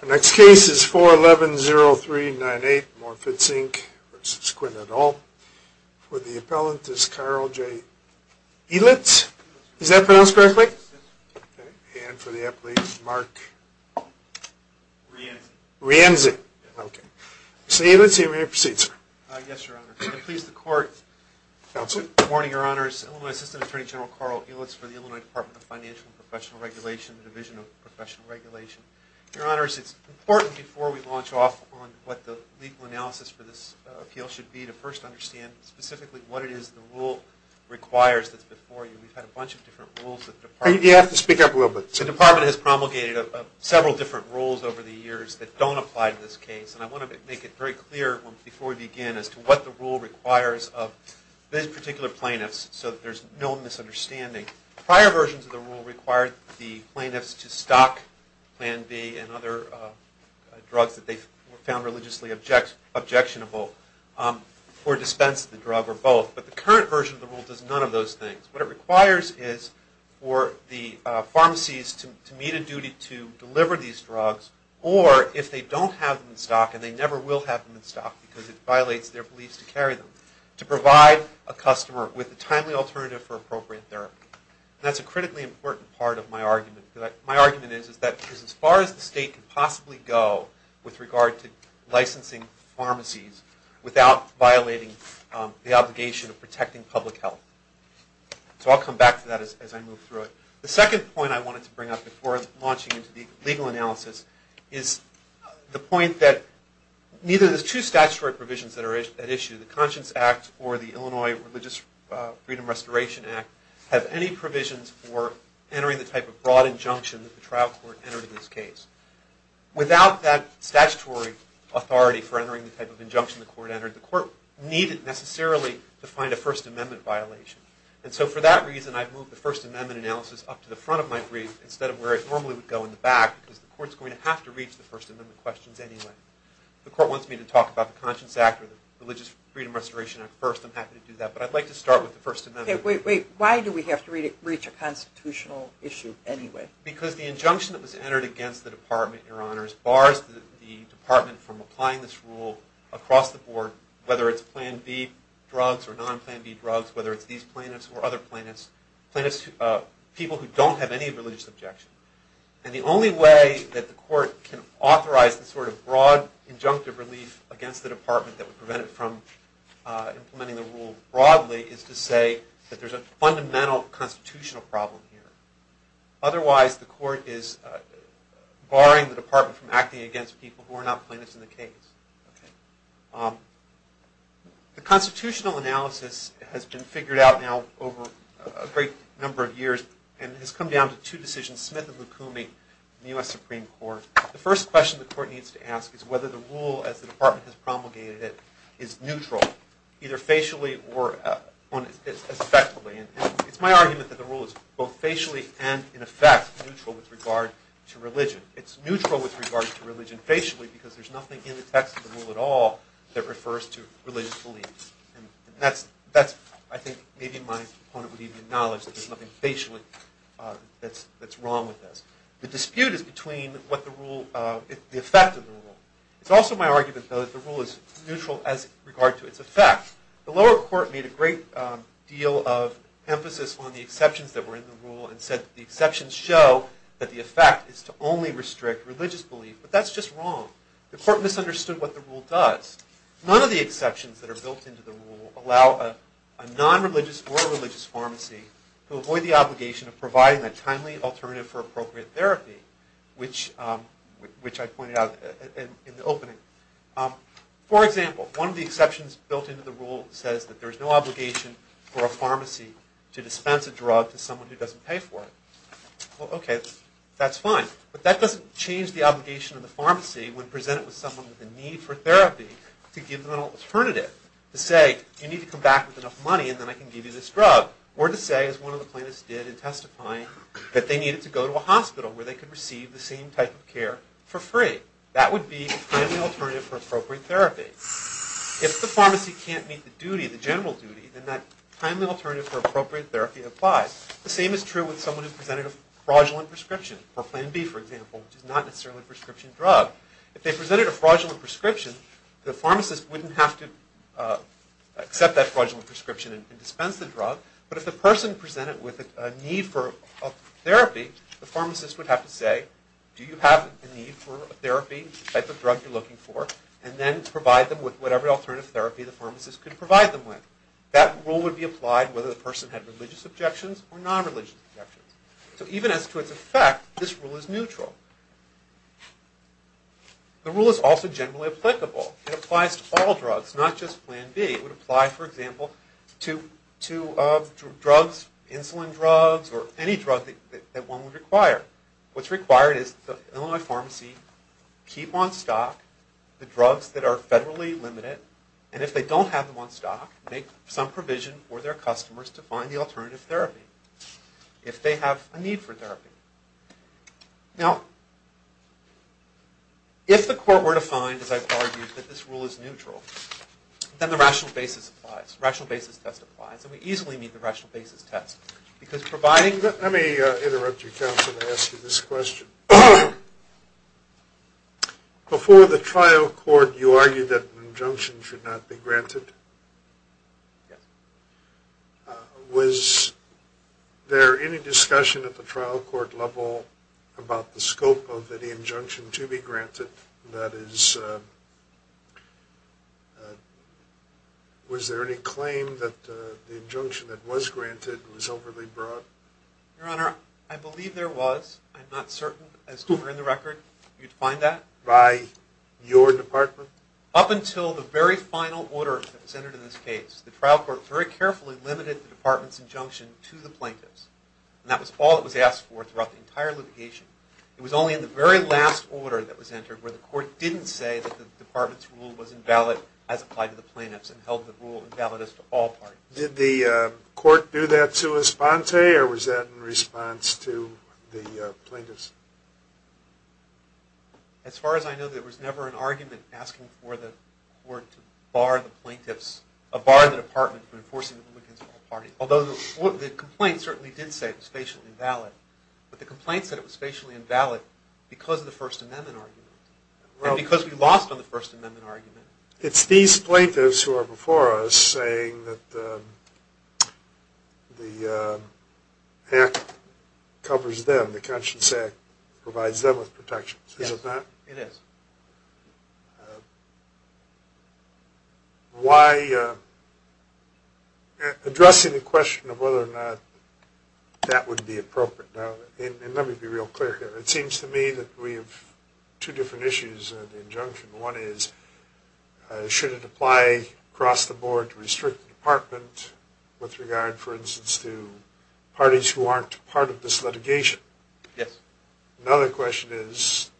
The next case is 411-0398 Morr-Fitz v. Quinn et al. With the appellant is Carl J. Ehlitz. Is that pronounced correctly? And for the appellate is Mark Rienzi. Rienzi, okay. Mr. Ehlitz, you may proceed, sir. Yes, Your Honor, and please the court. Good morning, Your Honors. Illinois Assistant Attorney General Carl Ehlitz for the Illinois Department of Financial and Professional Regulation, the Division of Professional Regulation. Your Honors, it's important before we launch off on what the legal analysis for this appeal should be to first understand specifically what it is the rule requires that's before you. We've had a bunch of different rules that the department... You have to speak up a little bit. The department has promulgated several different rules over the years that don't apply to this case. And I want to make it very clear before we begin as to what the rule requires of this particular plaintiff so that there's no misunderstanding. Prior versions of the rule required the plaintiffs to stock Plan B and other drugs that they found religiously objectionable or dispense the drug or both. But the current version of the rule does none of those things. What it requires is for the pharmacies to meet a duty to deliver these drugs, or if they don't have them in stock and they never will have them in stock because it violates their beliefs to carry them, to provide a customer with a timely alternative for appropriate therapy. And that's a critically important part of my argument. My argument is that as far as the state could possibly go with regard to licensing pharmacies without violating the obligation of protecting public health. So I'll come back to that as I move through it. The second point I wanted to bring up before launching into the legal analysis is the point that neither of the two statutory provisions that are at issue, the Conscience Act or the Illinois Religious Freedom Restoration Act, have any provisions for entering the type of broad injunction that the trial court entered in this case. Without that statutory authority for entering the type of injunction the court entered, the court needed necessarily to find a First Amendment violation. And so for that reason I've moved the First Amendment analysis up to the front of my brief instead of where it normally would go in the back because the court's going to have to reach the First Amendment questions anyway. The court wants me to talk about the Conscience Act or the Religious Freedom Restoration Act first. I'm happy to do that. But I'd like to start with the First Amendment. Why do we have to reach a constitutional issue anyway? Because the injunction that was entered against the department, Your Honors, bars the department from applying this rule across the board, whether it's Plan B drugs or non-Plan B drugs, whether it's these plaintiffs or other plaintiffs, people who don't have any religious objection. And the only way that the court can authorize this sort of broad injunctive relief against the department that would prevent it from implementing the rule broadly is to say that there's a fundamental constitutional problem here. Otherwise the court is barring the department from acting against people who are not plaintiffs in the case. The constitutional analysis has been figured out now over a great number of years and has come down to two decisions, Smith and Lukumi in the U.S. Supreme Court. The first question the court needs to ask is whether the rule, as the department has promulgated it, is neutral, either facially or effectively. It's my argument that the rule is both facially and, in effect, neutral with regard to religion. It's neutral with regard to religion facially because there's nothing in the text of the rule at all that refers to religious beliefs. I think maybe my opponent would even acknowledge that there's nothing facially that's wrong with this. The dispute is between the effect of the rule. It's also my argument, though, that the rule is neutral as regard to its effect. The lower court made a great deal of emphasis on the exceptions that were in the rule and said that the exceptions show that the effect is to only restrict religious belief. But that's just wrong. The court misunderstood what the rule does. None of the exceptions that are built into the rule allow a non-religious or a religious pharmacy to avoid the obligation of providing that timely alternative for appropriate therapy, which I pointed out in the opening. For example, one of the exceptions built into the rule says that there's no obligation for a pharmacy to dispense a drug to someone who doesn't pay for it. Well, okay, that's fine. But that doesn't change the obligation of the pharmacy when presented with someone with a need for therapy to give them an alternative, to say, you need to come back with enough money and then I can give you this drug, or to say, as one of the plaintiffs did in testifying, that they needed to go to a hospital where they could receive the same type of care for free. That would be a timely alternative for appropriate therapy. If the pharmacy can't meet the duty, the general duty, then that timely alternative for appropriate therapy applies. The same is true with someone who presented a fraudulent prescription, or Plan B, for example, which is not necessarily a prescription drug. If they presented a fraudulent prescription, the pharmacist wouldn't have to accept that fraudulent prescription and dispense the drug, but if the person presented with a need for therapy, the pharmacist would have to say, do you have a need for therapy, the type of drug you're looking for, and then provide them with whatever alternative therapy the pharmacist could provide them with. That rule would be applied whether the person had religious objections or non-religious objections. So even as to its effect, this rule is neutral. The rule is also generally applicable. It applies to all drugs, not just Plan B. It would apply, for example, to drugs, insulin drugs, or any drug that one would require. What's required is the Illinois pharmacy keep on stock the drugs that are federally limited, and if they don't have them on stock, make some provision for their customers to find the alternative therapy, if they have a need for therapy. Now, if the court were to find, as I've argued, that this rule is neutral, then the rational basis applies. Rational basis test applies, and we easily need the rational basis test, because providing... Let me interrupt you, counsel, and ask you this question. Before the trial court, you argued that an injunction should not be granted. Yes. Was there any discussion at the trial court level about the scope of any injunction to be granted? That is, was there any claim that the injunction that was granted was overly broad? Your Honor, I believe there was. I'm not certain, as to where in the record you'd find that. By your department? Up until the very final order that was entered in this case, the trial court very carefully limited the department's injunction to the plaintiffs, and that was all that was asked for throughout the entire litigation. It was only in the very last order that was entered where the court didn't say that the department's rule was invalid as applied to the plaintiffs and held the rule invalid as to all parties. Did the court do that sua sponte, or was that in response to the plaintiffs? As far as I know, there was never an argument asking for the court to bar the plaintiffs, or bar the department from enforcing the rule against all parties, although the complaint certainly did say it was spatially invalid. But the complaint said it was spatially invalid because of the First Amendment argument, and because we lost on the First Amendment argument. It's these plaintiffs who are before us saying that the Act covers them, the Conscience Act provides them with protections, is it not? Yes, it is. Why addressing the question of whether or not that would be appropriate? Now, let me be real clear here. It seems to me that we have two different issues in the injunction. One is, should it apply across the board to restrict the department with regard, for instance, to parties who aren't part of this litigation? Yes. Another question is,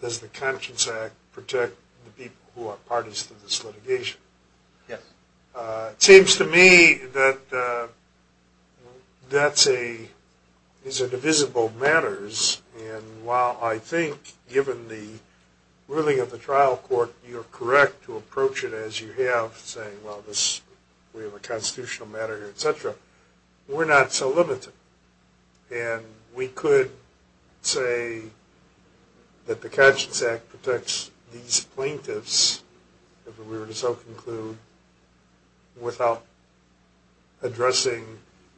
does the Conscience Act protect the people who are parties to this litigation? Yes. It seems to me that that is a divisible matter, and while I think, given the ruling of the trial court, you're correct to approach it as you have, saying, well, we have a constitutional matter here, et cetera, we're not so limited. And we could say that the Conscience Act protects these plaintiffs, if we were to so conclude, without addressing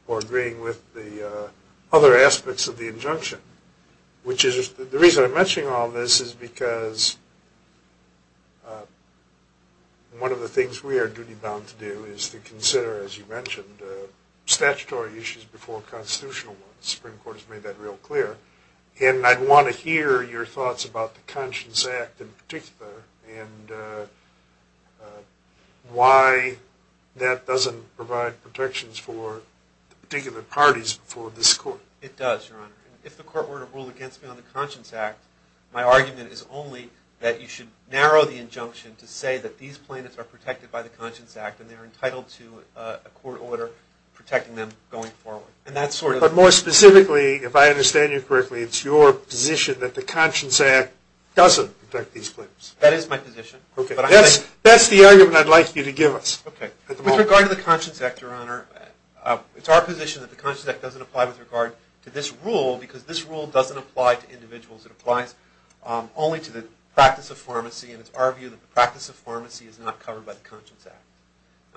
or agreeing with the other aspects of the injunction. The reason I'm mentioning all this is because one of the things we are duty-bound to do is to consider, as you mentioned, statutory issues before constitutional ones. The Supreme Court has made that real clear. And I'd want to hear your thoughts about the Conscience Act in particular and why that doesn't provide protections for the particular parties before this court. It does, Your Honor. If the court were to rule against me on the Conscience Act, my argument is only that you should narrow the injunction to say that these plaintiffs are protected by the Conscience Act and they are entitled to a court order protecting them going forward. But more specifically, if I understand you correctly, it's your position that the Conscience Act doesn't protect these plaintiffs? That is my position. That's the argument I'd like you to give us. With regard to the Conscience Act, Your Honor, it's our position that the Conscience Act doesn't apply with regard to this rule because this rule doesn't apply to individuals. It applies only to the practice of pharmacy. And it's our view that the practice of pharmacy is not covered by the Conscience Act.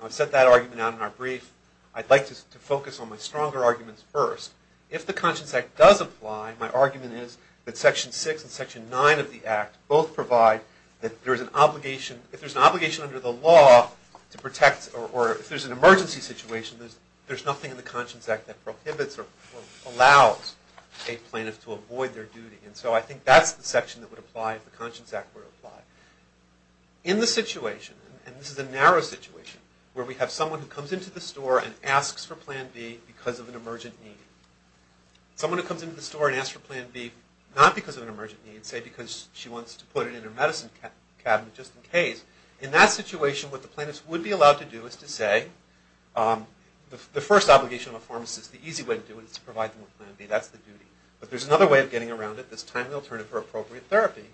I've set that argument out in our brief. I'd like to focus on my stronger arguments first. If the Conscience Act does apply, my argument is that Section 6 and Section 9 of the Act both provide that if there's an obligation under the law to protect or if there's an emergency situation, there's nothing in the Conscience Act that prohibits or allows a plaintiff to avoid their duty. And so I think that's the section that would apply if the Conscience Act were to apply. In the situation, and this is a narrow situation, where we have someone who comes into the store and asks for Plan B because of an emergent need, someone who comes into the store and asks for Plan B not because of an emergent need, say because she wants to put it in her medicine cabinet just in case. In that situation, what the plaintiff would be allowed to do is to say, the first obligation of a pharmacist, the easy way to do it is to provide them with Plan B. That's the duty. But there's another way of getting around it, this timely alternative for appropriate therapy.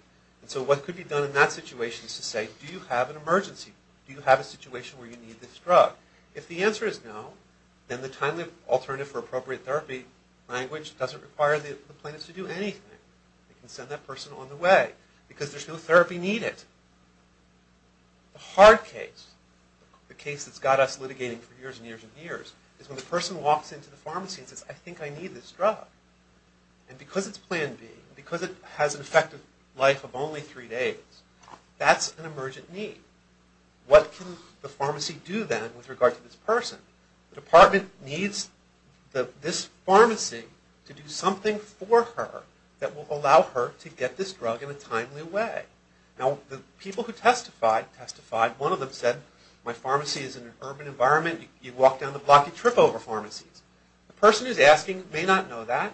And so what could be done in that situation is to say, do you have an emergency? Do you have a situation where you need this drug? If the answer is no, then the timely alternative for appropriate therapy language doesn't require the plaintiff to do anything. They can send that person on the way because there's no therapy needed. The hard case, the case that's got us litigating for years and years and years, is when the person walks into the pharmacy and says, I think I need this drug. And because it's Plan B, because it has an effective life of only three days, that's an emergent need. What can the pharmacy do then with regard to this person? The department needs this pharmacy to do something for her that will allow her to get this drug in a timely way. Now, the people who testified, one of them said, my pharmacy is in an urban environment. You walk down the block, you trip over pharmacies. The person who's asking may not know that,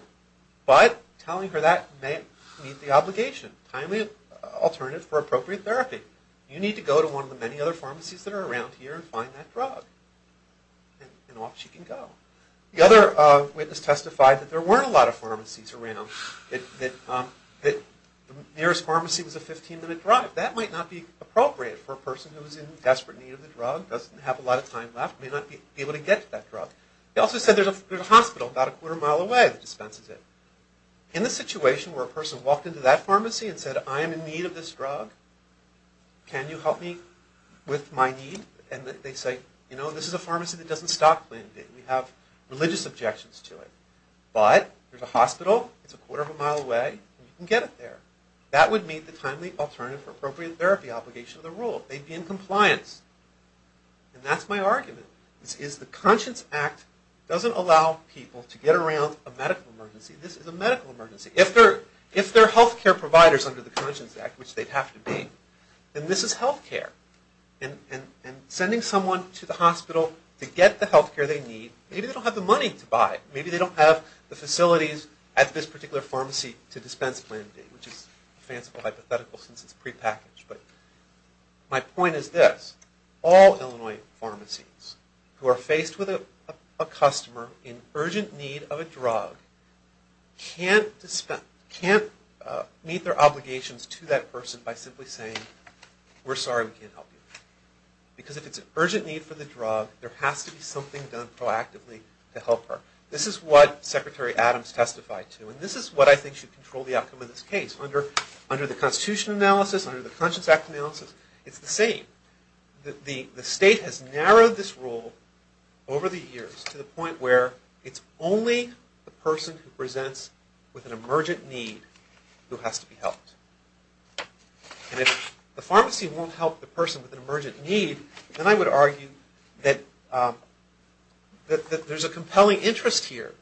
but telling her that may meet the obligation. Timely alternative for appropriate therapy. You need to go to one of the many other pharmacies that are around here and find that drug. And off she can go. The other witness testified that there weren't a lot of pharmacies around, that the nearest pharmacy was a 15-minute drive. That might not be appropriate for a person who's in desperate need of the drug, doesn't have a lot of time left, may not be able to get to that drug. He also said there's a hospital about a quarter mile away that dispenses it. In the situation where a person walked into that pharmacy and said, I am in need of this drug, can you help me with my need? And they say, you know, this is a pharmacy that doesn't stop playing a game. We have religious objections to it. But there's a hospital, it's a quarter of a mile away, and you can get it there. That would meet the timely alternative for appropriate therapy obligation of the rule. They'd be in compliance. And that's my argument, is the Conscience Act doesn't allow people to get around a medical emergency. This is a medical emergency. If they're health care providers under the Conscience Act, which they'd have to be, then this is health care. And sending someone to the hospital to get the health care they need, maybe they don't have the money to buy it. Maybe they don't have the facilities at this particular pharmacy to dispense plan B, which is a fanciful hypothetical since it's prepackaged. But my point is this. All Illinois pharmacies who are faced with a customer in urgent need of a drug can't meet their obligations to that person by simply saying, we're sorry, we can't help you. Because if it's an urgent need for the drug, there has to be something done proactively to help her. This is what Secretary Adams testified to, and this is what I think should control the outcome of this case. Under the Constitution analysis, under the Conscience Act analysis, it's the same. The state has narrowed this rule over the years to the point where it's only the person who presents with an emergent need who has to be helped. And if the pharmacy won't help the person with an emergent need, then I would argue that there's a compelling interest here.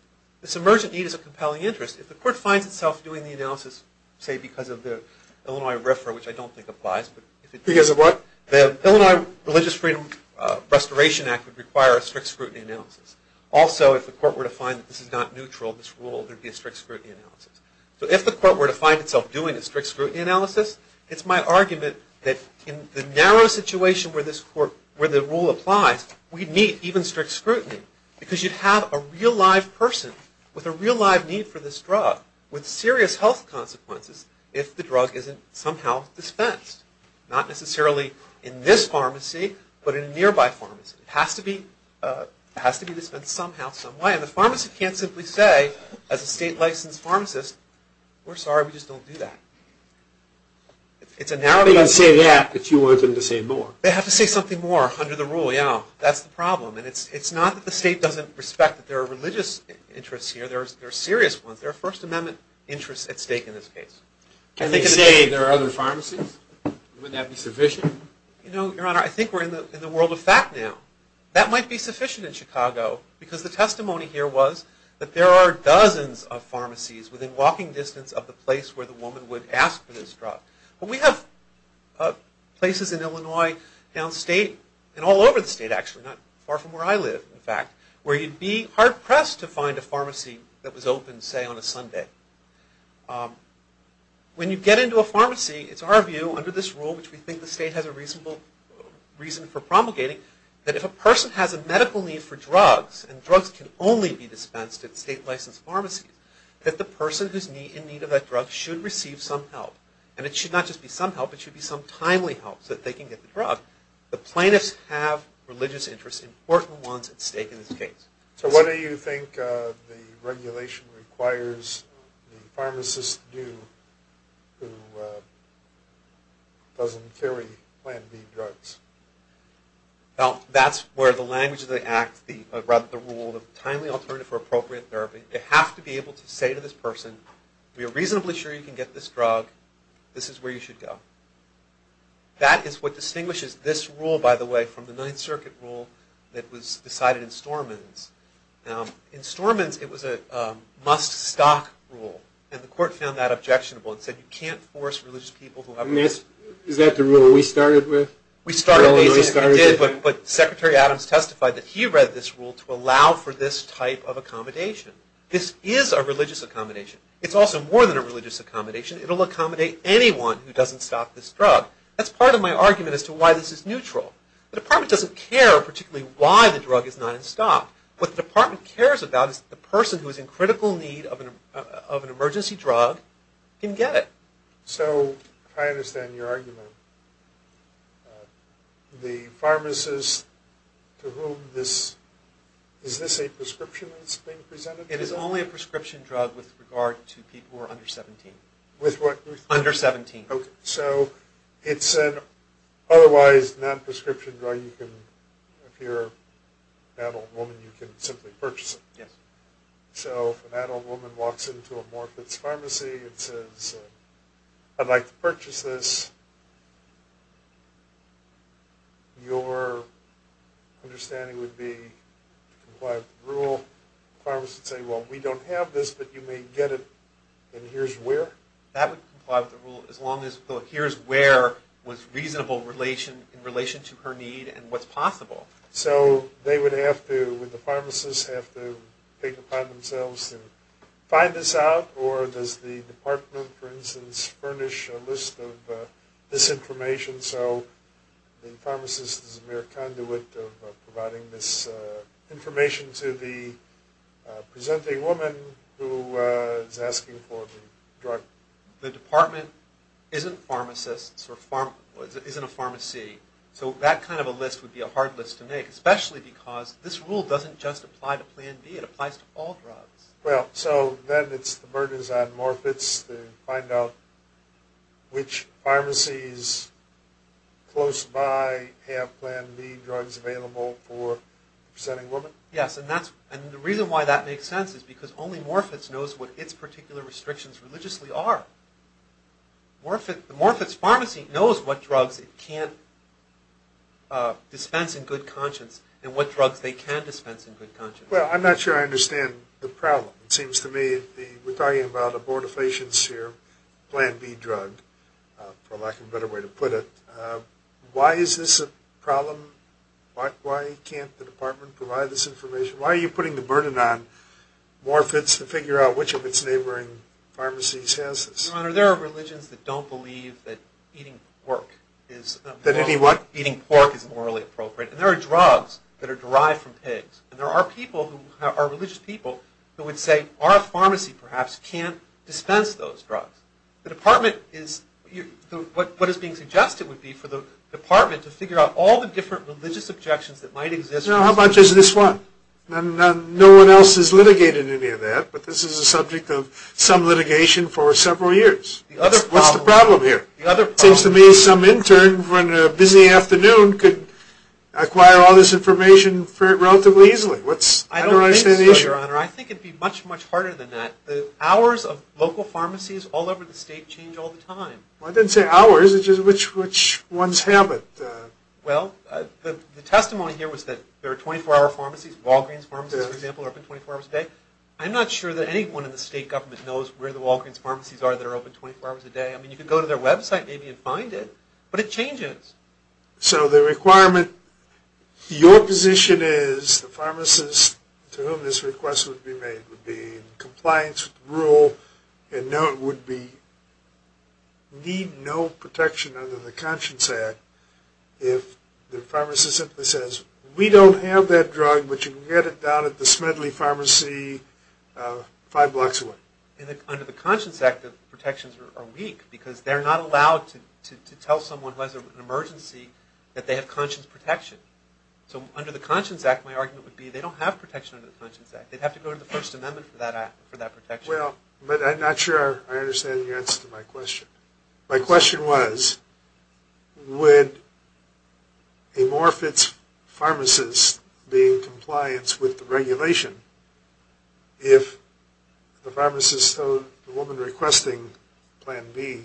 This emergent need is a compelling interest. If the court finds itself doing the analysis, say, because of the Illinois RFRA, which I don't think applies. Because of what? The Illinois Religious Freedom Restoration Act would require a strict scrutiny analysis. Also, if the court were to find that this is not neutral, this rule, there would be a strict scrutiny analysis. So if the court were to find itself doing a strict scrutiny analysis, it's my argument that in the narrow situation where the rule applies, we'd need even strict scrutiny. Because you'd have a real live person with a real live need for this drug, with serious health consequences, if the drug isn't somehow dispensed. Not necessarily in this pharmacy, but in a nearby pharmacy. It has to be dispensed somehow, some way. And the pharmacist can't simply say, as a state licensed pharmacist, we're sorry, we just don't do that. It's a narrow... They can say that, but you want them to say more. They have to say something more under the rule, yeah, that's the problem. And it's not that the state doesn't respect that there are religious interests here. There are serious ones. There are First Amendment interests at stake in this case. Can they say there are other pharmacies? Wouldn't that be sufficient? You know, Your Honor, I think we're in the world of fact now. That might be sufficient in Chicago, because the testimony here was that there are dozens of pharmacies within walking distance of the place where the woman would ask for this drug. But we have places in Illinois, downstate, and all over the state actually, not far from where I live, in fact, where you'd be hard pressed to find a pharmacy that was open, say, on a Sunday. When you get into a pharmacy, it's our view, under this rule, which we think the state has a reasonable reason for promulgating, that if a person has a medical need for drugs, and drugs can only be dispensed at state licensed pharmacies, that the person who's in need of that drug should receive some help. And it should not just be some help, it should be some timely help so that they can get the drug. The plaintiffs have religious interests, important ones, at stake in this case. So what do you think the regulation requires the pharmacist to do who doesn't carry Plan B drugs? Well, that's where the language of the Act, or rather the rule, the timely alternative for appropriate therapy, they have to be able to say to this person, we are reasonably sure you can get this drug, this is where you should go. That is what distinguishes this rule, by the way, from the Ninth Circuit rule that was decided in Stormins. Now, in Stormins, it was a must-stock rule, and the court found that objectionable and said, you can't force religious people to have a drug. Is that the rule we started with? We started with it, but Secretary Adams testified that he read this rule to allow for this type of accommodation. This is a religious accommodation. It's also more than a religious accommodation. It will accommodate anyone who doesn't stock this drug. That's part of my argument as to why this is neutral. The Department doesn't care particularly why the drug is not in stock. What the Department cares about is the person who is in critical need of an emergency drug can get it. So, I understand your argument. The pharmacist to whom this, is this a prescription that's being presented? It is only a prescription drug with regard to people who are under 17. With what? Under 17. Okay. So, it's an otherwise non-prescription drug you can, if you're an adult woman, you can simply purchase it. Yes. So, if an adult woman walks into a Morfitt's Pharmacy and says, I'd like to purchase this, your understanding would be to comply with the rule. The pharmacist would say, well, we don't have this, but you may get it in here's where. That would comply with the rule as long as the here's where was reasonable in relation to her need and what's possible. So, they would have to, would the pharmacist have to take it upon themselves to find this out, or does the Department, for instance, furnish a list of this information? So, the pharmacist is a mere conduit of providing this information to the presenting woman who is asking for the drug. The Department isn't pharmacists or isn't a pharmacy. So, that kind of a list would be a hard list to make, especially because this rule doesn't just apply to Plan B, it applies to all drugs. Well, so, then it's the burdens on Morfitt's to find out which pharmacies close by have Plan B drugs available for the presenting woman? Yes, and that's, and the reason why that makes sense is because only Morfitt's knows what its particular restrictions religiously are. Morfitt's Pharmacy knows what drugs it can't dispense in good conscience and what drugs they can dispense in good conscience. Well, I'm not sure I understand the problem. It seems to me, we're talking about a Board of Patients here, Plan B drug, for lack of a better way to put it. Why is this a problem? Why can't the Department provide this information? Why are you putting the burden on Morfitt's to figure out which of its neighboring pharmacies has this? Your Honor, there are religions that don't believe that eating pork is morally appropriate. And there are drugs that are derived from pigs. And there are people who, are religious people, who would say our pharmacy perhaps can't dispense those drugs. The Department is, what is being suggested would be for the Department to figure out all the different religious objections that might exist. Well, how much is this one? No one else has litigated any of that, but this is the subject of some litigation for several years. What's the problem here? It seems to me some intern on a busy afternoon could acquire all this information relatively easily. I don't understand the issue. I think it would be much, much harder than that. The hours of local pharmacies all over the state change all the time. I didn't say hours, it's just which ones have it. Well, the testimony here was that there are 24-hour pharmacies. Walgreens, for example, are open 24 hours a day. I'm not sure that anyone in the state government knows where the Walgreens pharmacies are that are open 24 hours a day. I mean, you could go to their website maybe and find it, but it changes. So the requirement, your position is the pharmacist to whom this request would be made would be in compliance with the rule and no, it would need no protection under the Conscience Act if the pharmacist simply says, we don't have that drug, but you can get it down at the Smedley Pharmacy five blocks away. Under the Conscience Act, the protections are weak because they're not allowed to tell someone who has an emergency that they have conscience protection. So under the Conscience Act, my argument would be they don't have protection under the Conscience Act. They'd have to go to the First Amendment for that protection. Well, but I'm not sure I understand the answer to my question. My question was, would a Morfitts pharmacist be in compliance with the regulation if the pharmacist told the woman requesting Plan B,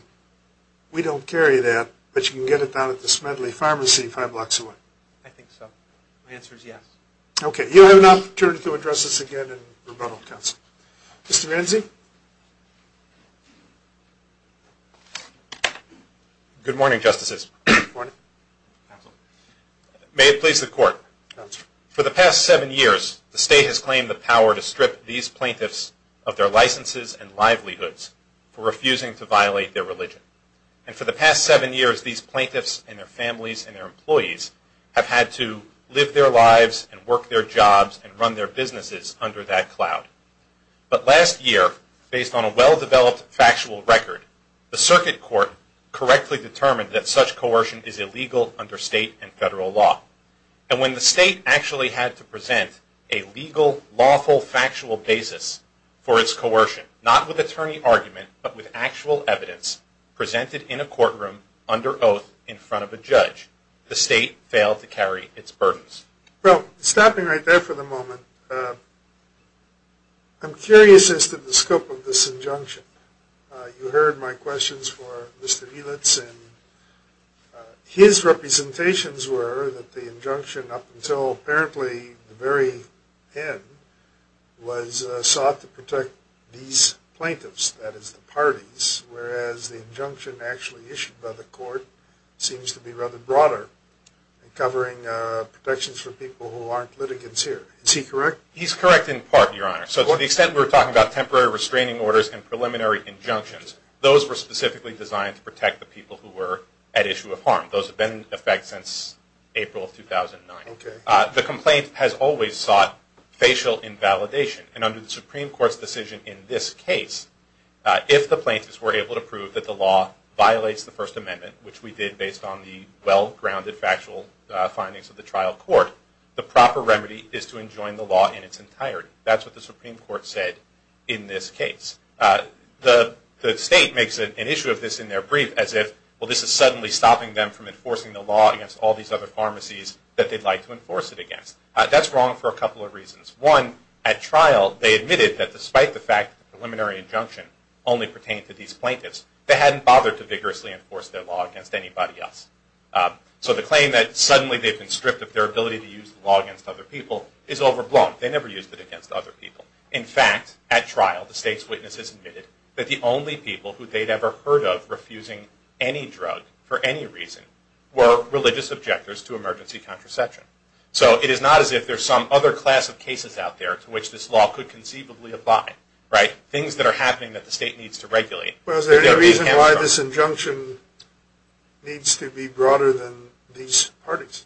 we don't carry that, but you can get it down at the Smedley Pharmacy five blocks away? I think so. My answer is yes. Okay. You have an opportunity to address this again in rebuttal council. Mr. Renzi? Good morning, Justices. Good morning. May it please the Court. For the past seven years, the state has claimed the power to strip these plaintiffs of their licenses and livelihoods for refusing to violate their religion. And for the past seven years, these plaintiffs and their families and their employees have had to live their lives and work their jobs and run their businesses under that cloud. But last year, based on a well-developed factual record, the Circuit Court correctly determined that such coercion is illegal under state and federal law. And when the state actually had to present a legal, lawful, factual basis for its coercion, not with attorney argument but with actual evidence presented in a courtroom under oath in front of a judge, the state failed to carry its burdens. Well, stopping right there for the moment, I'm curious as to the scope of this injunction. You heard my questions for Mr. Elitz, and his representations were that the injunction up until apparently the very end was sought to protect these plaintiffs, that is, the parties, whereas the injunction actually issued by the Court seems to be rather broader and covering protections for people who aren't litigants here. Is he correct? He's correct in part, Your Honor. So to the extent we're talking about temporary restraining orders and preliminary injunctions, those were specifically designed to protect the people who were at issue of harm. Those have been in effect since April of 2009. The complaint has always sought facial invalidation. And under the Supreme Court's decision in this case, if the plaintiffs were able to prove that the law violates the First Amendment, which we did based on the well-grounded factual findings of the trial court, the proper remedy is to enjoin the law in its entirety. That's what the Supreme Court said in this case. The state makes an issue of this in their brief as if, well, this is suddenly stopping them from enforcing the law against all these other pharmacies that they'd like to enforce it against. That's wrong for a couple of reasons. One, at trial, they admitted that despite the fact that the preliminary injunction only pertained to these plaintiffs, they hadn't bothered to vigorously enforce their law against anybody else. So the claim that suddenly they've been stripped of their ability to use the law against other people is overblown. They never used it against other people. In fact, at trial, the state's witnesses admitted that the only people who they'd ever heard of refusing any drug for any reason were religious objectors to emergency contraception. So it is not as if there's some other class of cases out there to which this law could conceivably apply, right? Well, is there any reason why this injunction needs to be broader than these parties?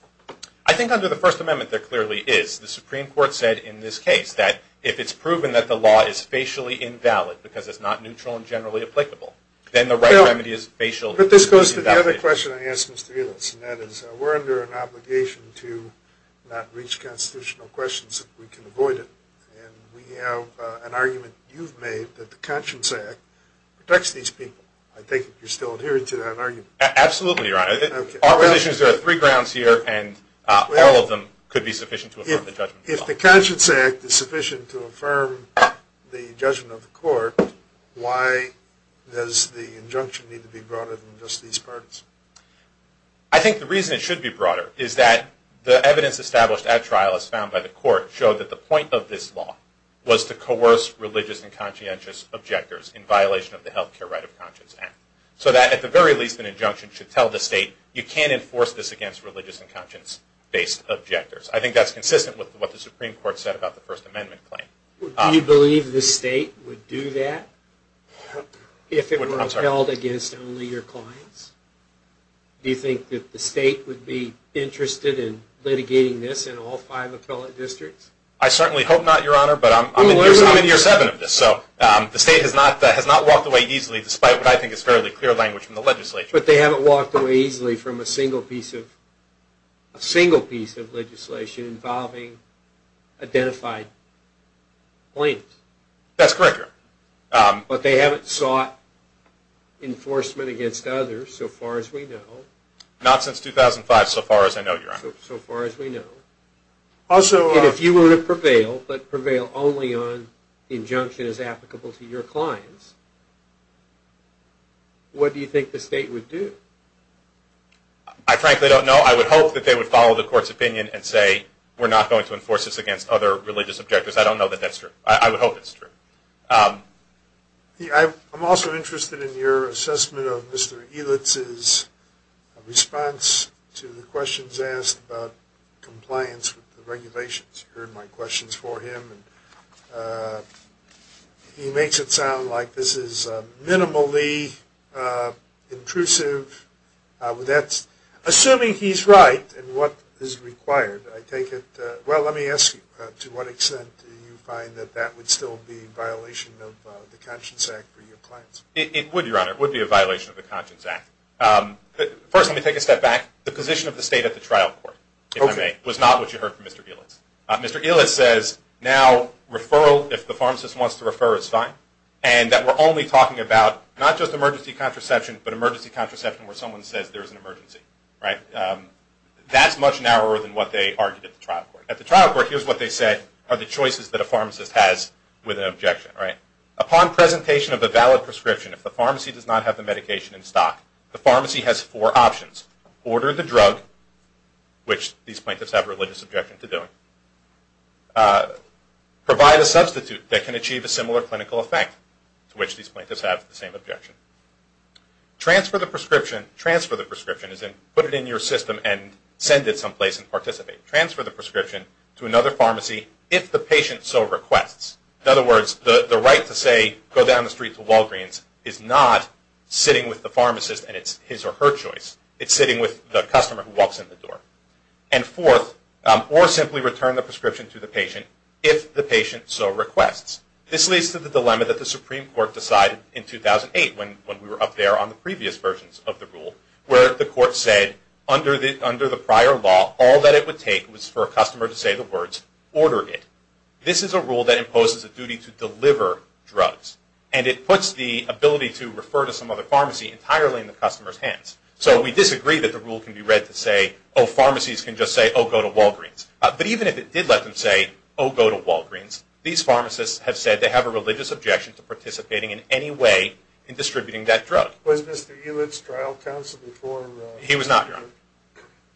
I think under the First Amendment, there clearly is. The Supreme Court said in this case that if it's proven that the law is facially invalid because it's not neutral and generally applicable, then the right remedy is facially invalid. But this goes to the other question I asked Mr. Elias, and that is we're under an obligation to not reach constitutional questions if we can avoid it. And we have an argument you've made that the Conscience Act protects these people. I think you're still adhering to that argument. Absolutely, Your Honor. Our position is there are three grounds here, and all of them could be sufficient to affirm the judgment. If the Conscience Act is sufficient to affirm the judgment of the court, why does the injunction need to be broader than just these parties? I think the reason it should be broader is that the evidence established at trial, as found by the court, showed that the point of this law was to coerce religious and conscientious objectors in violation of the Health Care Right of Conscience Act. So that, at the very least, an injunction should tell the state, you can't enforce this against religious and conscience-based objectors. I think that's consistent with what the Supreme Court said about the First Amendment claim. Do you believe the state would do that if it were held against only your clients? Do you think that the state would be interested in litigating this in all five appellate districts? I certainly hope not, Your Honor, but I'm in year seven of this. So the state has not walked away easily, despite what I think is fairly clear language from the legislature. But they haven't walked away easily from a single piece of legislation involving identified claims. That's correct, Your Honor. But they haven't sought enforcement against others, so far as we know. Not since 2005, so far as I know, Your Honor. So far as we know. And if you were to prevail, but prevail only on injunctions applicable to your clients, what do you think the state would do? I frankly don't know. I would hope that they would follow the court's opinion and say, we're not going to enforce this against other religious objectors. I don't know that that's true. I would hope that's true. I'm also interested in your assessment of Mr. Elitz's response to the questions asked about compliance with the regulations. You heard my questions for him. He makes it sound like this is minimally intrusive. Assuming he's right in what is required, I take it. Well, let me ask you, to what extent do you find that that would still be a violation of the Conscience Act for your clients? It would, Your Honor. It would be a violation of the Conscience Act. First, let me take a step back. The position of the state at the trial court, if I may, was not what you heard from Mr. Elitz. Mr. Elitz says now referral, if the pharmacist wants to refer, is fine, and that we're only talking about not just emergency contraception, but emergency contraception where someone says there's an emergency. That's much narrower than what they argued at the trial court. At the trial court, here's what they said are the choices that a pharmacist has with an objection. Upon presentation of a valid prescription, if the pharmacy does not have the medication in stock, the pharmacy has four options. Order the drug, which these plaintiffs have a religious objection to doing. Provide a substitute that can achieve a similar clinical effect, to which these plaintiffs have the same objection. Transfer the prescription, transfer the prescription, as in put it in your system and send it someplace and participate. Transfer the prescription to another pharmacy, if the patient so requests. In other words, the right to say, go down the street to Walgreens, is not sitting with the pharmacist and it's his or her choice. It's sitting with the customer who walks in the door. And fourth, or simply return the prescription to the patient, if the patient so requests. This leads to the dilemma that the Supreme Court decided in 2008, when we were up there on the previous versions of the rule, where the court said under the prior law, all that it would take was for a customer to say the words, order it. This is a rule that imposes a duty to deliver drugs. And it puts the ability to refer to some other pharmacy entirely in the customer's hands. So we disagree that the rule can be read to say, oh, pharmacies can just say, oh, go to Walgreens. But even if it did let them say, oh, go to Walgreens, these pharmacists have said they have a religious objection to participating in any way in distributing that drug. Was Mr. Ulett's trial counsel before? He was not, Your Honor.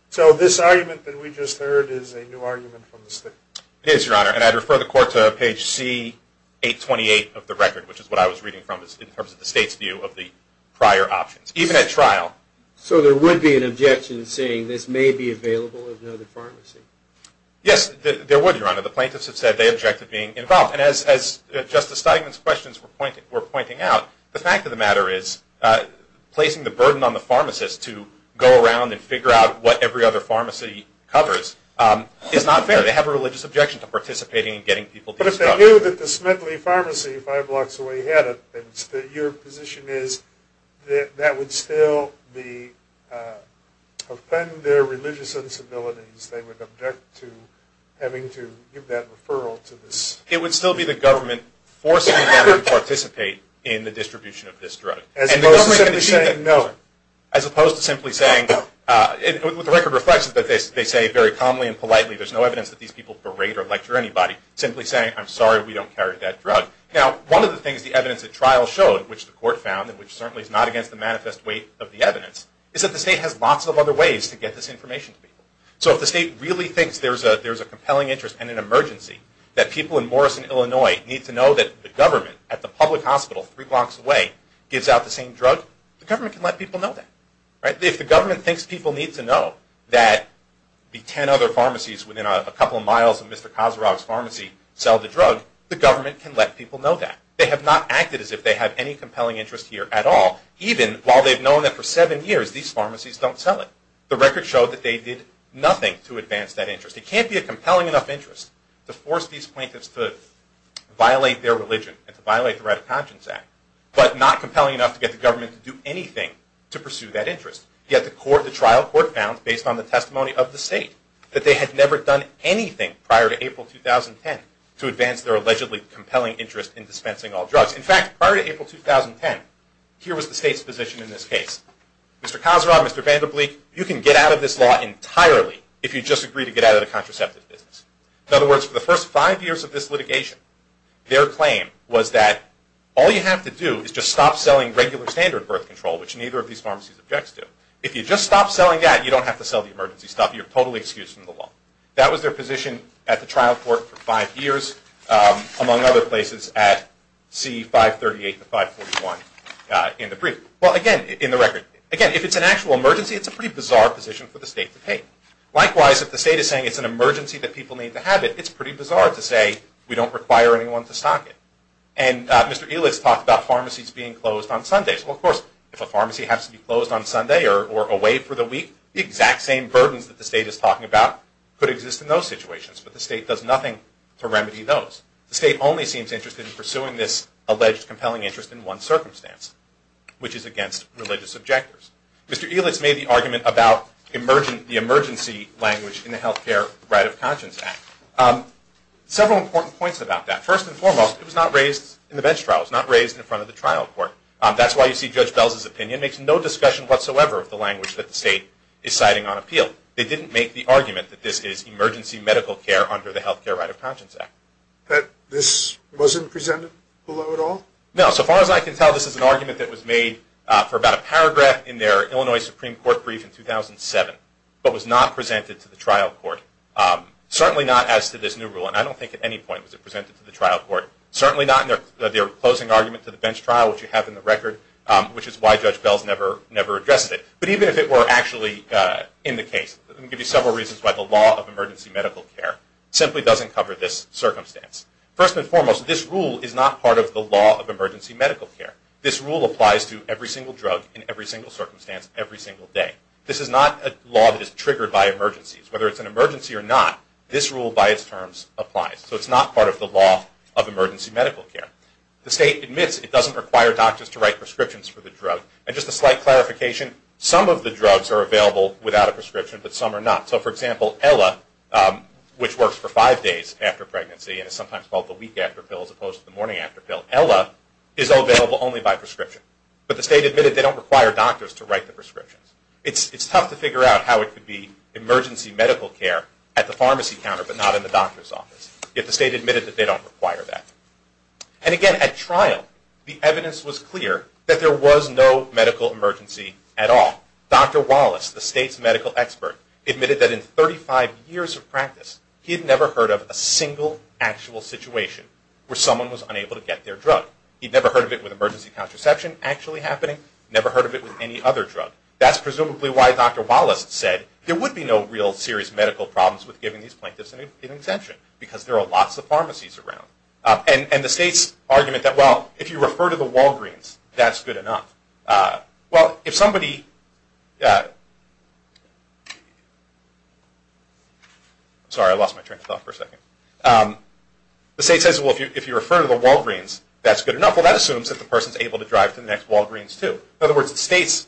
So this argument that we just heard is a new argument from the state? It is, Your Honor. And I'd refer the court to page C828 of the record, which is what I was reading from in terms of the state's view of the prior options. Even at trial. So there would be an objection saying this may be available at another pharmacy? Yes, there would, Your Honor. The plaintiffs have said they object to being involved. And as Justice Steigman's questions were pointing out, the fact of the matter is placing the burden on the pharmacist to go around and figure out what every other pharmacy covers is not fair. They have a religious objection to participating in getting people to use drugs. I knew that the Smedley Pharmacy five blocks away had it, and your position is that that would still be, offend their religious sensibilities. They would object to having to give that referral to this. It would still be the government forcing them to participate in the distribution of this drug. As opposed to simply saying no. As opposed to simply saying, and what the record reflects is that they say very calmly and politely, there's no evidence that these people berate or lecture anybody. Simply saying, I'm sorry, we don't carry that drug. Now, one of the things the evidence at trial showed, which the court found, and which certainly is not against the manifest weight of the evidence, is that the state has lots of other ways to get this information to people. So if the state really thinks there's a compelling interest and an emergency, that people in Morrison, Illinois, need to know that the government at the public hospital three blocks away gives out the same drug, the government can let people know that. If the government thinks people need to know that the ten other pharmacies within a couple of miles of Mr. Kozurov's pharmacy sell the drug, the government can let people know that. They have not acted as if they have any compelling interest here at all, even while they've known that for seven years these pharmacies don't sell it. The record showed that they did nothing to advance that interest. It can't be a compelling enough interest to force these plaintiffs to violate their religion and to violate the Right of Conscience Act, but not compelling enough to get the government to do anything to pursue that interest. Yet the trial court found, based on the testimony of the state, that they had never done anything prior to April 2010 to advance their allegedly compelling interest in dispensing all drugs. In fact, prior to April 2010, here was the state's position in this case. Mr. Kozurov, Mr. Vanderbleek, you can get out of this law entirely if you just agree to get out of the contraceptive business. In other words, for the first five years of this litigation, their claim was that all you have to do is just stop selling regular standard birth control, which neither of these pharmacies objects to. If you just stop selling that, you don't have to sell the emergency stuff. You're totally excused from the law. That was their position at the trial court for five years, among other places at C-538 and 541 in the brief. Well, again, in the record, again, if it's an actual emergency, it's a pretty bizarre position for the state to take. Likewise, if the state is saying it's an emergency that people need to have it, it's pretty bizarre to say we don't require anyone to stock it. And Mr. Elitz talked about pharmacies being closed on Sundays. Well, of course, if a pharmacy has to be closed on Sunday or away for the week, the exact same burdens that the state is talking about could exist in those situations, but the state does nothing to remedy those. The state only seems interested in pursuing this alleged compelling interest in one circumstance, which is against religious objectors. Mr. Elitz made the argument about the emergency language in the Health Care Right of Conscience Act. Several important points about that. First and foremost, it was not raised in the bench trial. It was not raised in front of the trial court. That's why you see Judge Belz's opinion makes no discussion whatsoever of the language that the state is citing on appeal. They didn't make the argument that this is emergency medical care under the Health Care Right of Conscience Act. This wasn't presented below at all? No. So far as I can tell, this is an argument that was made for about a paragraph in their Illinois Supreme Court brief in 2007, but was not presented to the trial court. Certainly not as to this new rule, and I don't think at any point was it presented to the trial court. Certainly not in their closing argument to the bench trial, which you have in the record, which is why Judge Belz never addressed it. But even if it were actually in the case, let me give you several reasons why the law of emergency medical care simply doesn't cover this circumstance. First and foremost, this rule is not part of the law of emergency medical care. This rule applies to every single drug in every single circumstance every single day. This is not a law that is triggered by emergencies. Whether it's an emergency or not, this rule by its terms applies. So it's not part of the law of emergency medical care. The state admits it doesn't require doctors to write prescriptions for the drug. And just a slight clarification, some of the drugs are available without a prescription, but some are not. So for example, Ella, which works for five days after pregnancy, and is sometimes called the week after pill as opposed to the morning after pill, Ella is available only by prescription. But the state admitted they don't require doctors to write the prescriptions. It's tough to figure out how it could be emergency medical care at the pharmacy counter but not in the doctor's office, if the state admitted that they don't require that. And again, at trial, the evidence was clear that there was no medical emergency at all. Dr. Wallace, the state's medical expert, admitted that in 35 years of practice, he had never heard of a single actual situation where someone was unable to get their drug. He'd never heard of it with emergency contraception actually happening. Never heard of it with any other drug. That's presumably why Dr. Wallace said there would be no real serious medical problems with giving these plaintiffs an exemption, because there are lots of pharmacies around. And the state's argument that, well, if you refer to the Walgreens, that's good enough. Well, if somebody... Sorry, I lost my train of thought for a second. The state says, well, if you refer to the Walgreens, that's good enough. Well, that assumes that the person's able to drive to the next Walgreens too. In other words, the state's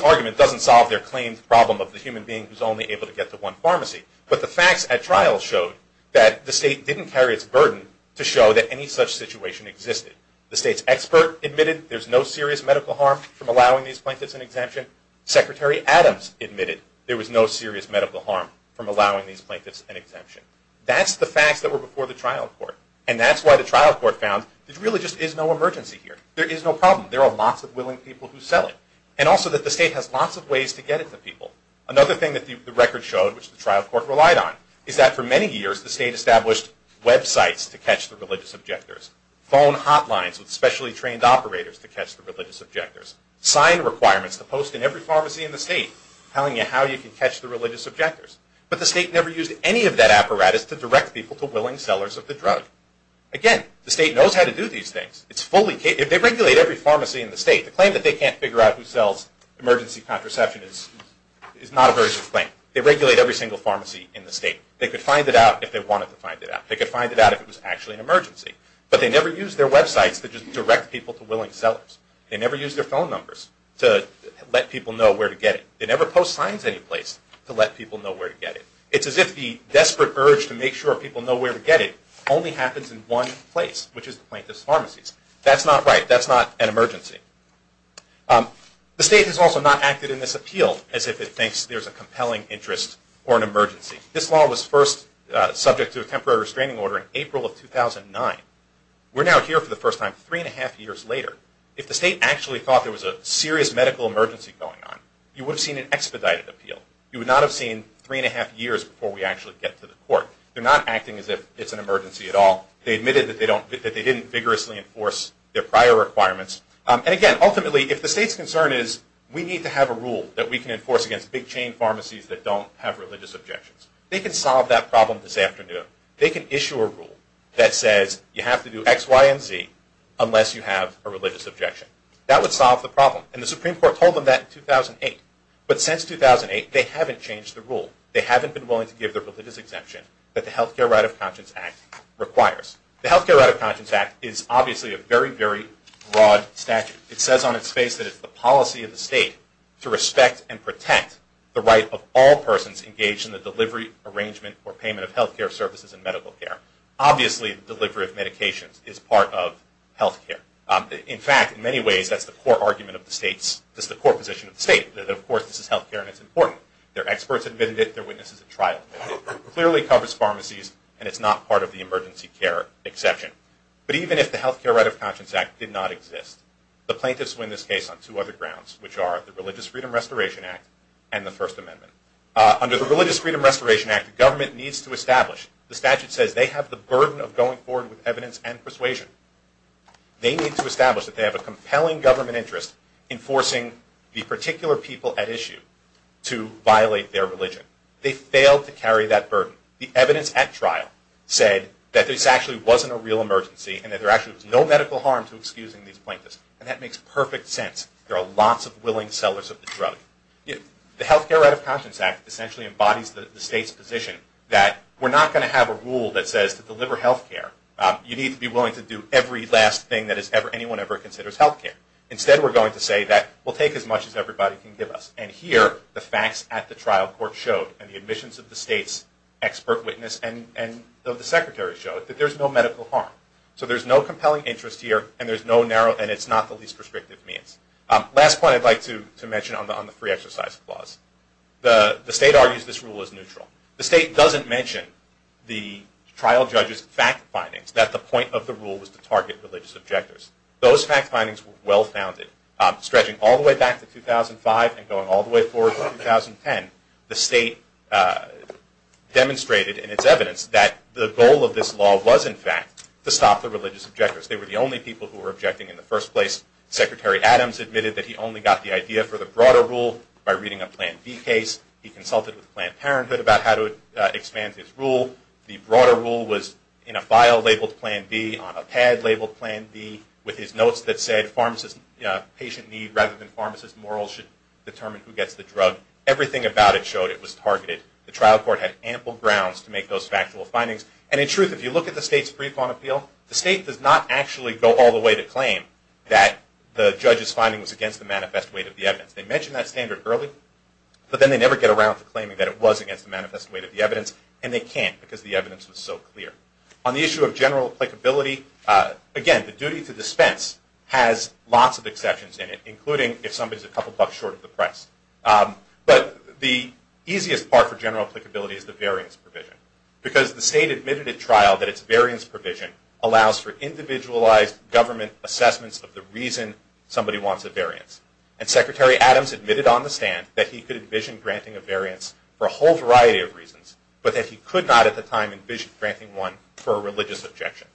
argument doesn't solve their claimed problem of the human being who's only able to get to one pharmacy. But the facts at trial showed that the state didn't carry its burden to show that any such situation existed. The state's expert admitted there's no serious medical harm from allowing these plaintiffs an exemption. Secretary Adams admitted there was no serious medical harm from allowing these plaintiffs an exemption. That's the facts that were before the trial court. And that's why the trial court found there really just is no emergency here. There is no problem. There are lots of willing people who sell it. And also that the state has lots of ways to get it to people. Another thing that the record showed, which the trial court relied on, is that for many years the state established websites to catch the religious objectors, phone hotlines with specially trained operators to catch the religious objectors, sign requirements to post in every pharmacy in the state telling you how you can catch the religious objectors. But the state never used any of that apparatus to direct people to willing sellers of the drug. Again, the state knows how to do these things. They regulate every pharmacy in the state. The claim that they can't figure out who sells emergency contraception is not a very good claim. They regulate every single pharmacy in the state. They could find it out if they wanted to find it out. They could find it out if it was actually an emergency. But they never used their websites to just direct people to willing sellers. They never used their phone numbers to let people know where to get it. They never post signs anyplace to let people know where to get it. It's as if the desperate urge to make sure people know where to get it only happens in one place, which is the plaintiff's pharmacies. That's not right. That's not an emergency. The state has also not acted in this appeal as if it thinks there's a compelling interest or an emergency. This law was first subject to a temporary restraining order in April of 2009. We're now here for the first time three and a half years later. If the state actually thought there was a serious medical emergency going on, you would have seen an expedited appeal. You would not have seen three and a half years before we actually get to the court. They're not acting as if it's an emergency at all. They admitted that they didn't vigorously enforce their prior requirements. And again, ultimately, if the state's concern is we need to have a rule that we can enforce against big chain pharmacies that don't have religious objections, they can solve that problem this afternoon. They can issue a rule that says you have to do X, Y, and Z unless you have a religious objection. That would solve the problem. And the Supreme Court told them that in 2008. But since 2008, they haven't changed the rule. They haven't been willing to give the religious exemption that the Health Care Right of Conscience Act requires. The Health Care Right of Conscience Act is obviously a very, very broad statute. It says on its face that it's the policy of the state to respect and protect the right of all persons engaged in the delivery, arrangement, or payment of health care services and medical care. Obviously, delivery of medications is part of health care. In fact, in many ways, that's the core argument of the state. That's the core position of the state. That, of course, this is health care and it's important. Their experts admitted it. Their witnesses at trial admitted it. It clearly covers pharmacies and it's not part of the emergency care exception. But even if the Health Care Right of Conscience Act did not exist, the plaintiffs win this case on two other grounds, which are the Religious Freedom Restoration Act and the First Amendment. Under the Religious Freedom Restoration Act, the government needs to establish, the statute says they have the burden of going forward with evidence and persuasion. They need to establish that they have a compelling government interest in forcing the particular people at issue to violate their religion. They failed to carry that burden. The evidence at trial said that this actually wasn't a real emergency and that there actually was no medical harm to excusing these plaintiffs. And that makes perfect sense. There are lots of willing sellers of the drug. The Health Care Right of Conscience Act essentially embodies the state's position that we're not going to have a rule that says to deliver health care, you need to be willing to do every last thing that anyone ever considers health care. Instead, we're going to say that we'll take as much as everybody can give us. And here, the facts at the trial court showed, and the admissions of the state's expert witness and of the secretary showed, that there's no medical harm. So there's no compelling interest here and it's not the least prescriptive means. Last point I'd like to mention on the free exercise clause. The state argues this rule is neutral. The state doesn't mention the trial judge's fact findings that the point of the rule was to target religious objectors. Those fact findings were well-founded. Stretching all the way back to 2005 and going all the way forward to 2010, the state demonstrated in its evidence that the goal of this law was, in fact, to stop the religious objectors. They were the only people who were objecting in the first place. Secretary Adams admitted that he only got the idea for the broader rule by reading a Plan B case. He consulted with Planned Parenthood about how to expand his rule. The broader rule was in a file labeled Plan B, on a pad labeled Plan B, with his notes that said patient need rather than pharmacist morals should determine who gets the drug. Everything about it showed it was targeted. The trial court had ample grounds to make those factual findings. And in truth, if you look at the state's pre-fine appeal, the state does not actually go all the way to claim that the judge's finding was against the manifest weight of the evidence. They mention that standard early, but then they never get around to claiming that it was against the manifest weight of the evidence, and they can't because the evidence was so clear. On the issue of general applicability, again, the duty to dispense has lots of exceptions in it, including if somebody's a couple bucks short of the price. But the easiest part for general applicability is the variance provision, because the state admitted at trial that its variance provision allows for individualized government assessments of the reason somebody wants a variance. And Secretary Adams admitted on the stand that he could envision granting a variance for a whole variety of reasons, but that he could not at the time envision granting one for a religious objection.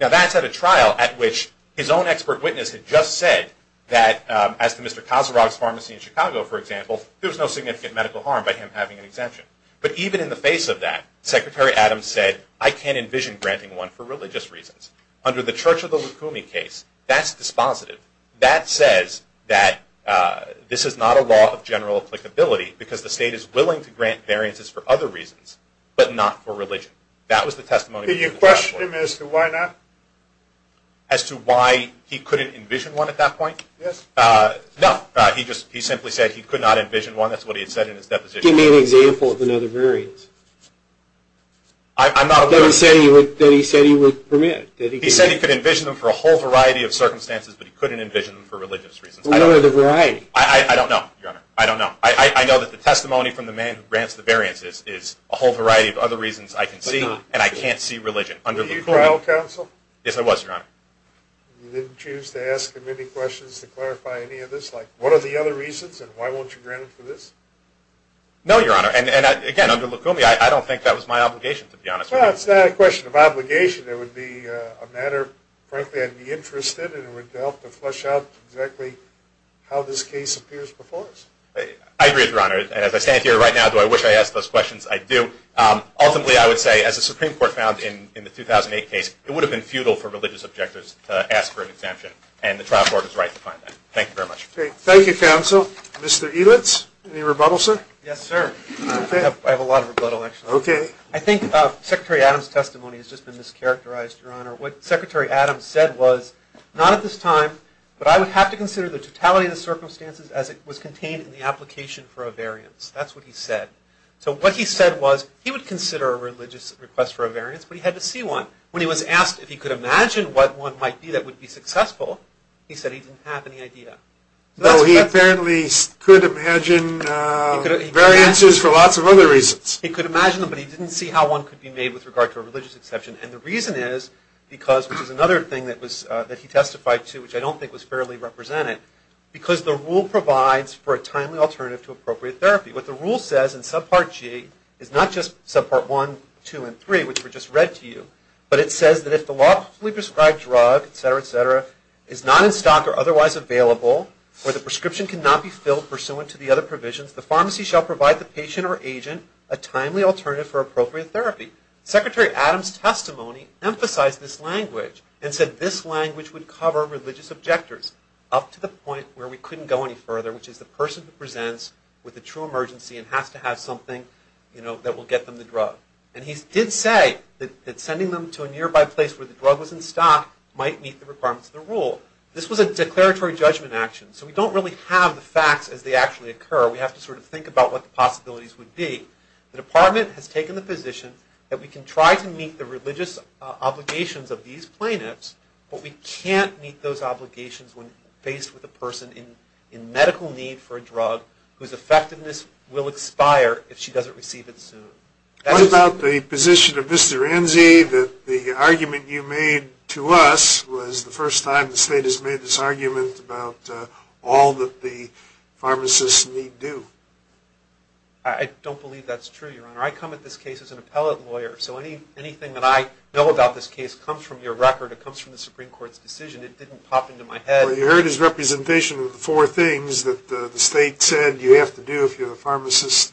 Now, that's at a trial at which his own expert witness had just said that, as to Mr. Casarog's pharmacy in Chicago, for example, there was no significant medical harm by him having an exemption. But even in the face of that, Secretary Adams said, I can't envision granting one for religious reasons. Under the Church of the Lukumi case, that's dispositive. That says that this is not a law of general applicability, because the state is willing to grant variances for other reasons, but not for religion. That was the testimony of Mr. Casarog. Can you question him as to why not? As to why he couldn't envision one at that point? Yes. No. He simply said he could not envision one. That's what he had said in his deposition. Give me an example of another variance. I'm not aware of that. That he said he would permit. He said he could envision them for a whole variety of circumstances, but he couldn't envision them for religious reasons. What are the varieties? I don't know, Your Honor. I don't know. I know that the testimony from the man who grants the variances is a whole variety of other reasons I can see, and I can't see religion. Were you trial counsel? Yes, I was, Your Honor. You didn't choose to ask him any questions to clarify any of this? Like, what are the other reasons, and why won't you grant him for this? No, Your Honor. And, again, under Lukumi, I don't think that was my obligation, to be honest. Well, it's not a question of obligation. It would be a matter, frankly, I'd be interested in, and it would help to flesh out exactly how this case appears before us. I agree with you, Your Honor. And as I stand here right now, do I wish I asked those questions? I do. Ultimately, I would say, as the Supreme Court found in the 2008 case, it would have been futile for religious objectors to ask for an exemption, and the trial court is right to find that. Thank you very much. Thank you, counsel. Mr. Edlitz, any rebuttal, sir? Yes, sir. I have a lot of rebuttal, actually. Okay. I think Secretary Adams' testimony has just been mischaracterized, Your Honor. What Secretary Adams said was, not at this time, but I would have to consider the totality of the circumstances as it was contained in the application for a variance. That's what he said. So what he said was, he would consider a religious request for a variance, but he had to see one. When he was asked if he could imagine what one might be that would be successful, he said he didn't have any idea. No, he apparently could imagine variances for lots of other reasons. He could imagine them, but he didn't see how one could be made with regard to a religious exception. And the reason is because, which is another thing that he testified to, which I don't think was fairly represented, because the rule provides for a timely alternative to appropriate therapy. What the rule says in Subpart G is not just Subpart 1, 2, and 3, which were just read to you, but it says that if the lawfully prescribed drug, et cetera, et cetera, is not in stock or otherwise available, or the prescription cannot be filled pursuant to the other provisions, the pharmacy shall provide the patient or agent a timely alternative for appropriate therapy. Secretary Adams' testimony emphasized this language and said this language would cover religious objectors up to the point where we couldn't go any further, which is the person who presents with a true emergency and has to have something that will get them the drug. And he did say that sending them to a nearby place where the drug was in stock might meet the requirements of the rule. This was a declaratory judgment action, so we don't really have the facts as they actually occur. We have to sort of think about what the possibilities would be. The department has taken the position that we can try to meet the religious obligations of these plaintiffs, but we can't meet those obligations when faced with a person in medical need for a drug whose effectiveness will expire if she doesn't receive it soon. What about the position of Mr. Enzi that the argument you made to us was the first time the state has made this argument about all that the pharmacists need do? I don't believe that's true, Your Honor. I come at this case as an appellate lawyer, so anything that I know about this case comes from your record. It comes from the Supreme Court's decision. It didn't pop into my head. Well, you heard his representation of the four things that the state said you have to do if you're a pharmacist.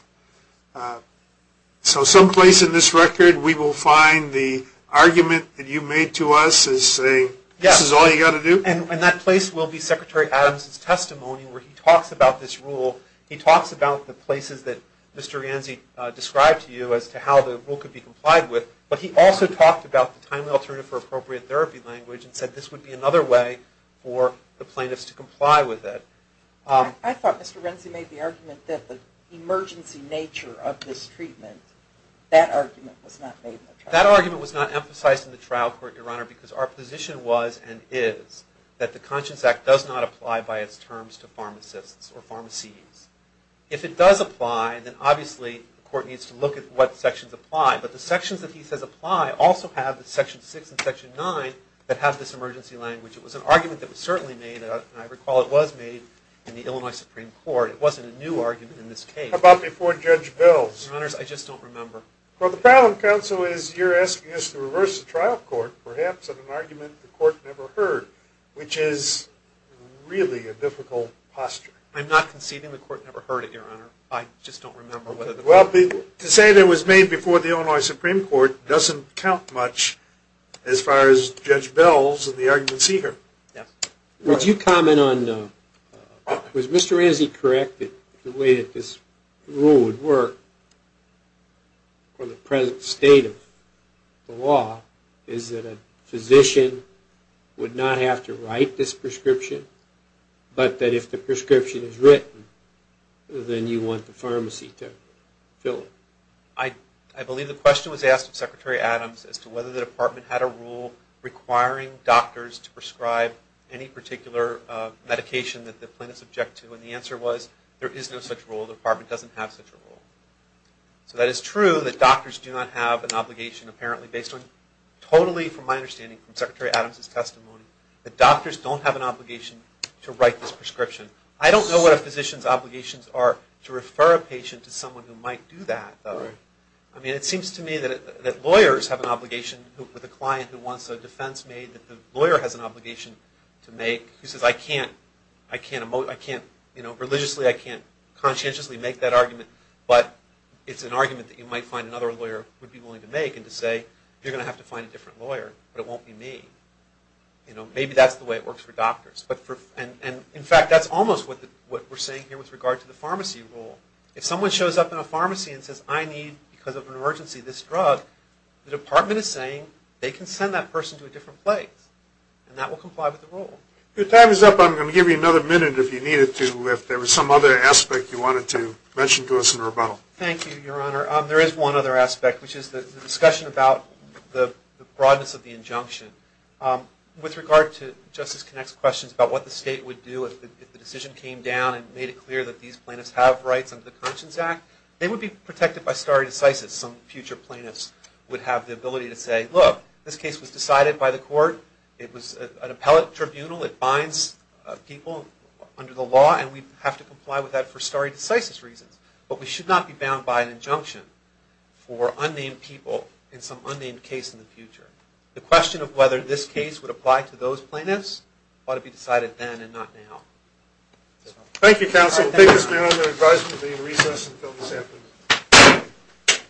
So someplace in this record, we will find the argument that you made to us as saying this is all you've got to do? And that place will be Secretary Adams' testimony where he talks about this rule. He talks about the places that Mr. Enzi described to you as to how the rule could be complied with, but he also talked about the timely alternative for appropriate therapy language and said this would be another way for the plaintiffs to comply with it. I thought Mr. Enzi made the argument that the emergency nature of this treatment, that argument was not made in the trial court. That argument was not emphasized in the trial court, Your Honor, because our position was and is that the Conscience Act does not apply by its terms to pharmacists or pharmacies. If it does apply, then obviously the court needs to look at what sections apply. But the sections that he says apply also have the Section 6 and Section 9 that have this emergency language. It was an argument that was certainly made, and I recall it was made, in the Illinois Supreme Court. It wasn't a new argument in this case. How about before Judge Bills? Your Honors, I just don't remember. Well, the problem, Counsel, is you're asking us to reverse the trial court, perhaps in an argument the court never heard, which is really a difficult posture. I'm not conceding the court never heard it, Your Honor. I just don't remember whether the court heard it. Well, to say that it was made before the Illinois Supreme Court doesn't count much as far as Judge Bills and the arguments he heard. Yes. Would you comment on, was Mr. Enzi correct that the way that this rule would work for the present state of the law is that a physician would not have to write this prescription, but that if the prescription is written, then you want the pharmacy to fill it? I believe the question was asked of Secretary Adams as to whether the Department had a rule requiring doctors to prescribe any particular medication that the plaintiff is subject to, and the answer was there is no such rule. The federal department doesn't have such a rule. So that is true that doctors do not have an obligation, apparently, based on, totally from my understanding, from Secretary Adams' testimony, that doctors don't have an obligation to write this prescription. I don't know what a physician's obligations are to refer a patient to someone who might do that, though. I mean, it seems to me that lawyers have an obligation with a client who wants a defense made that the lawyer has an obligation to make. He says, I can't, I can't, you know, religiously I can't conscientiously make that argument, but it's an argument that you might find another lawyer would be willing to make and to say, you're going to have to find a different lawyer, but it won't be me. You know, maybe that's the way it works for doctors. And in fact, that's almost what we're saying here with regard to the pharmacy rule. If someone shows up in a pharmacy and says, I need, because of an emergency, this drug, the Department is saying, they can send that person to a different place, and that will comply with the rule. Your time is up. I'm going to give you another minute if you needed to, if there was some other aspect you wanted to mention to us in rebuttal. Thank you, Your Honor. There is one other aspect, which is the discussion about the broadness of the injunction. With regard to Justice Connick's questions about what the state would do if the decision came down and made it clear that these plaintiffs have rights under the Conscience Act, they would be protected by stare decisis. Some future plaintiffs would have the ability to say, look, this case was decided by the court, it was an appellate tribunal, it binds people under the law, and we have to comply with that for stare decisis reasons. But we should not be bound by an injunction for unnamed people in some unnamed case in the future. The question of whether this case would apply to those plaintiffs ought to be decided then and not now. Thank you, counsel. We'll take this meeting under advisement of being recessed until this afternoon.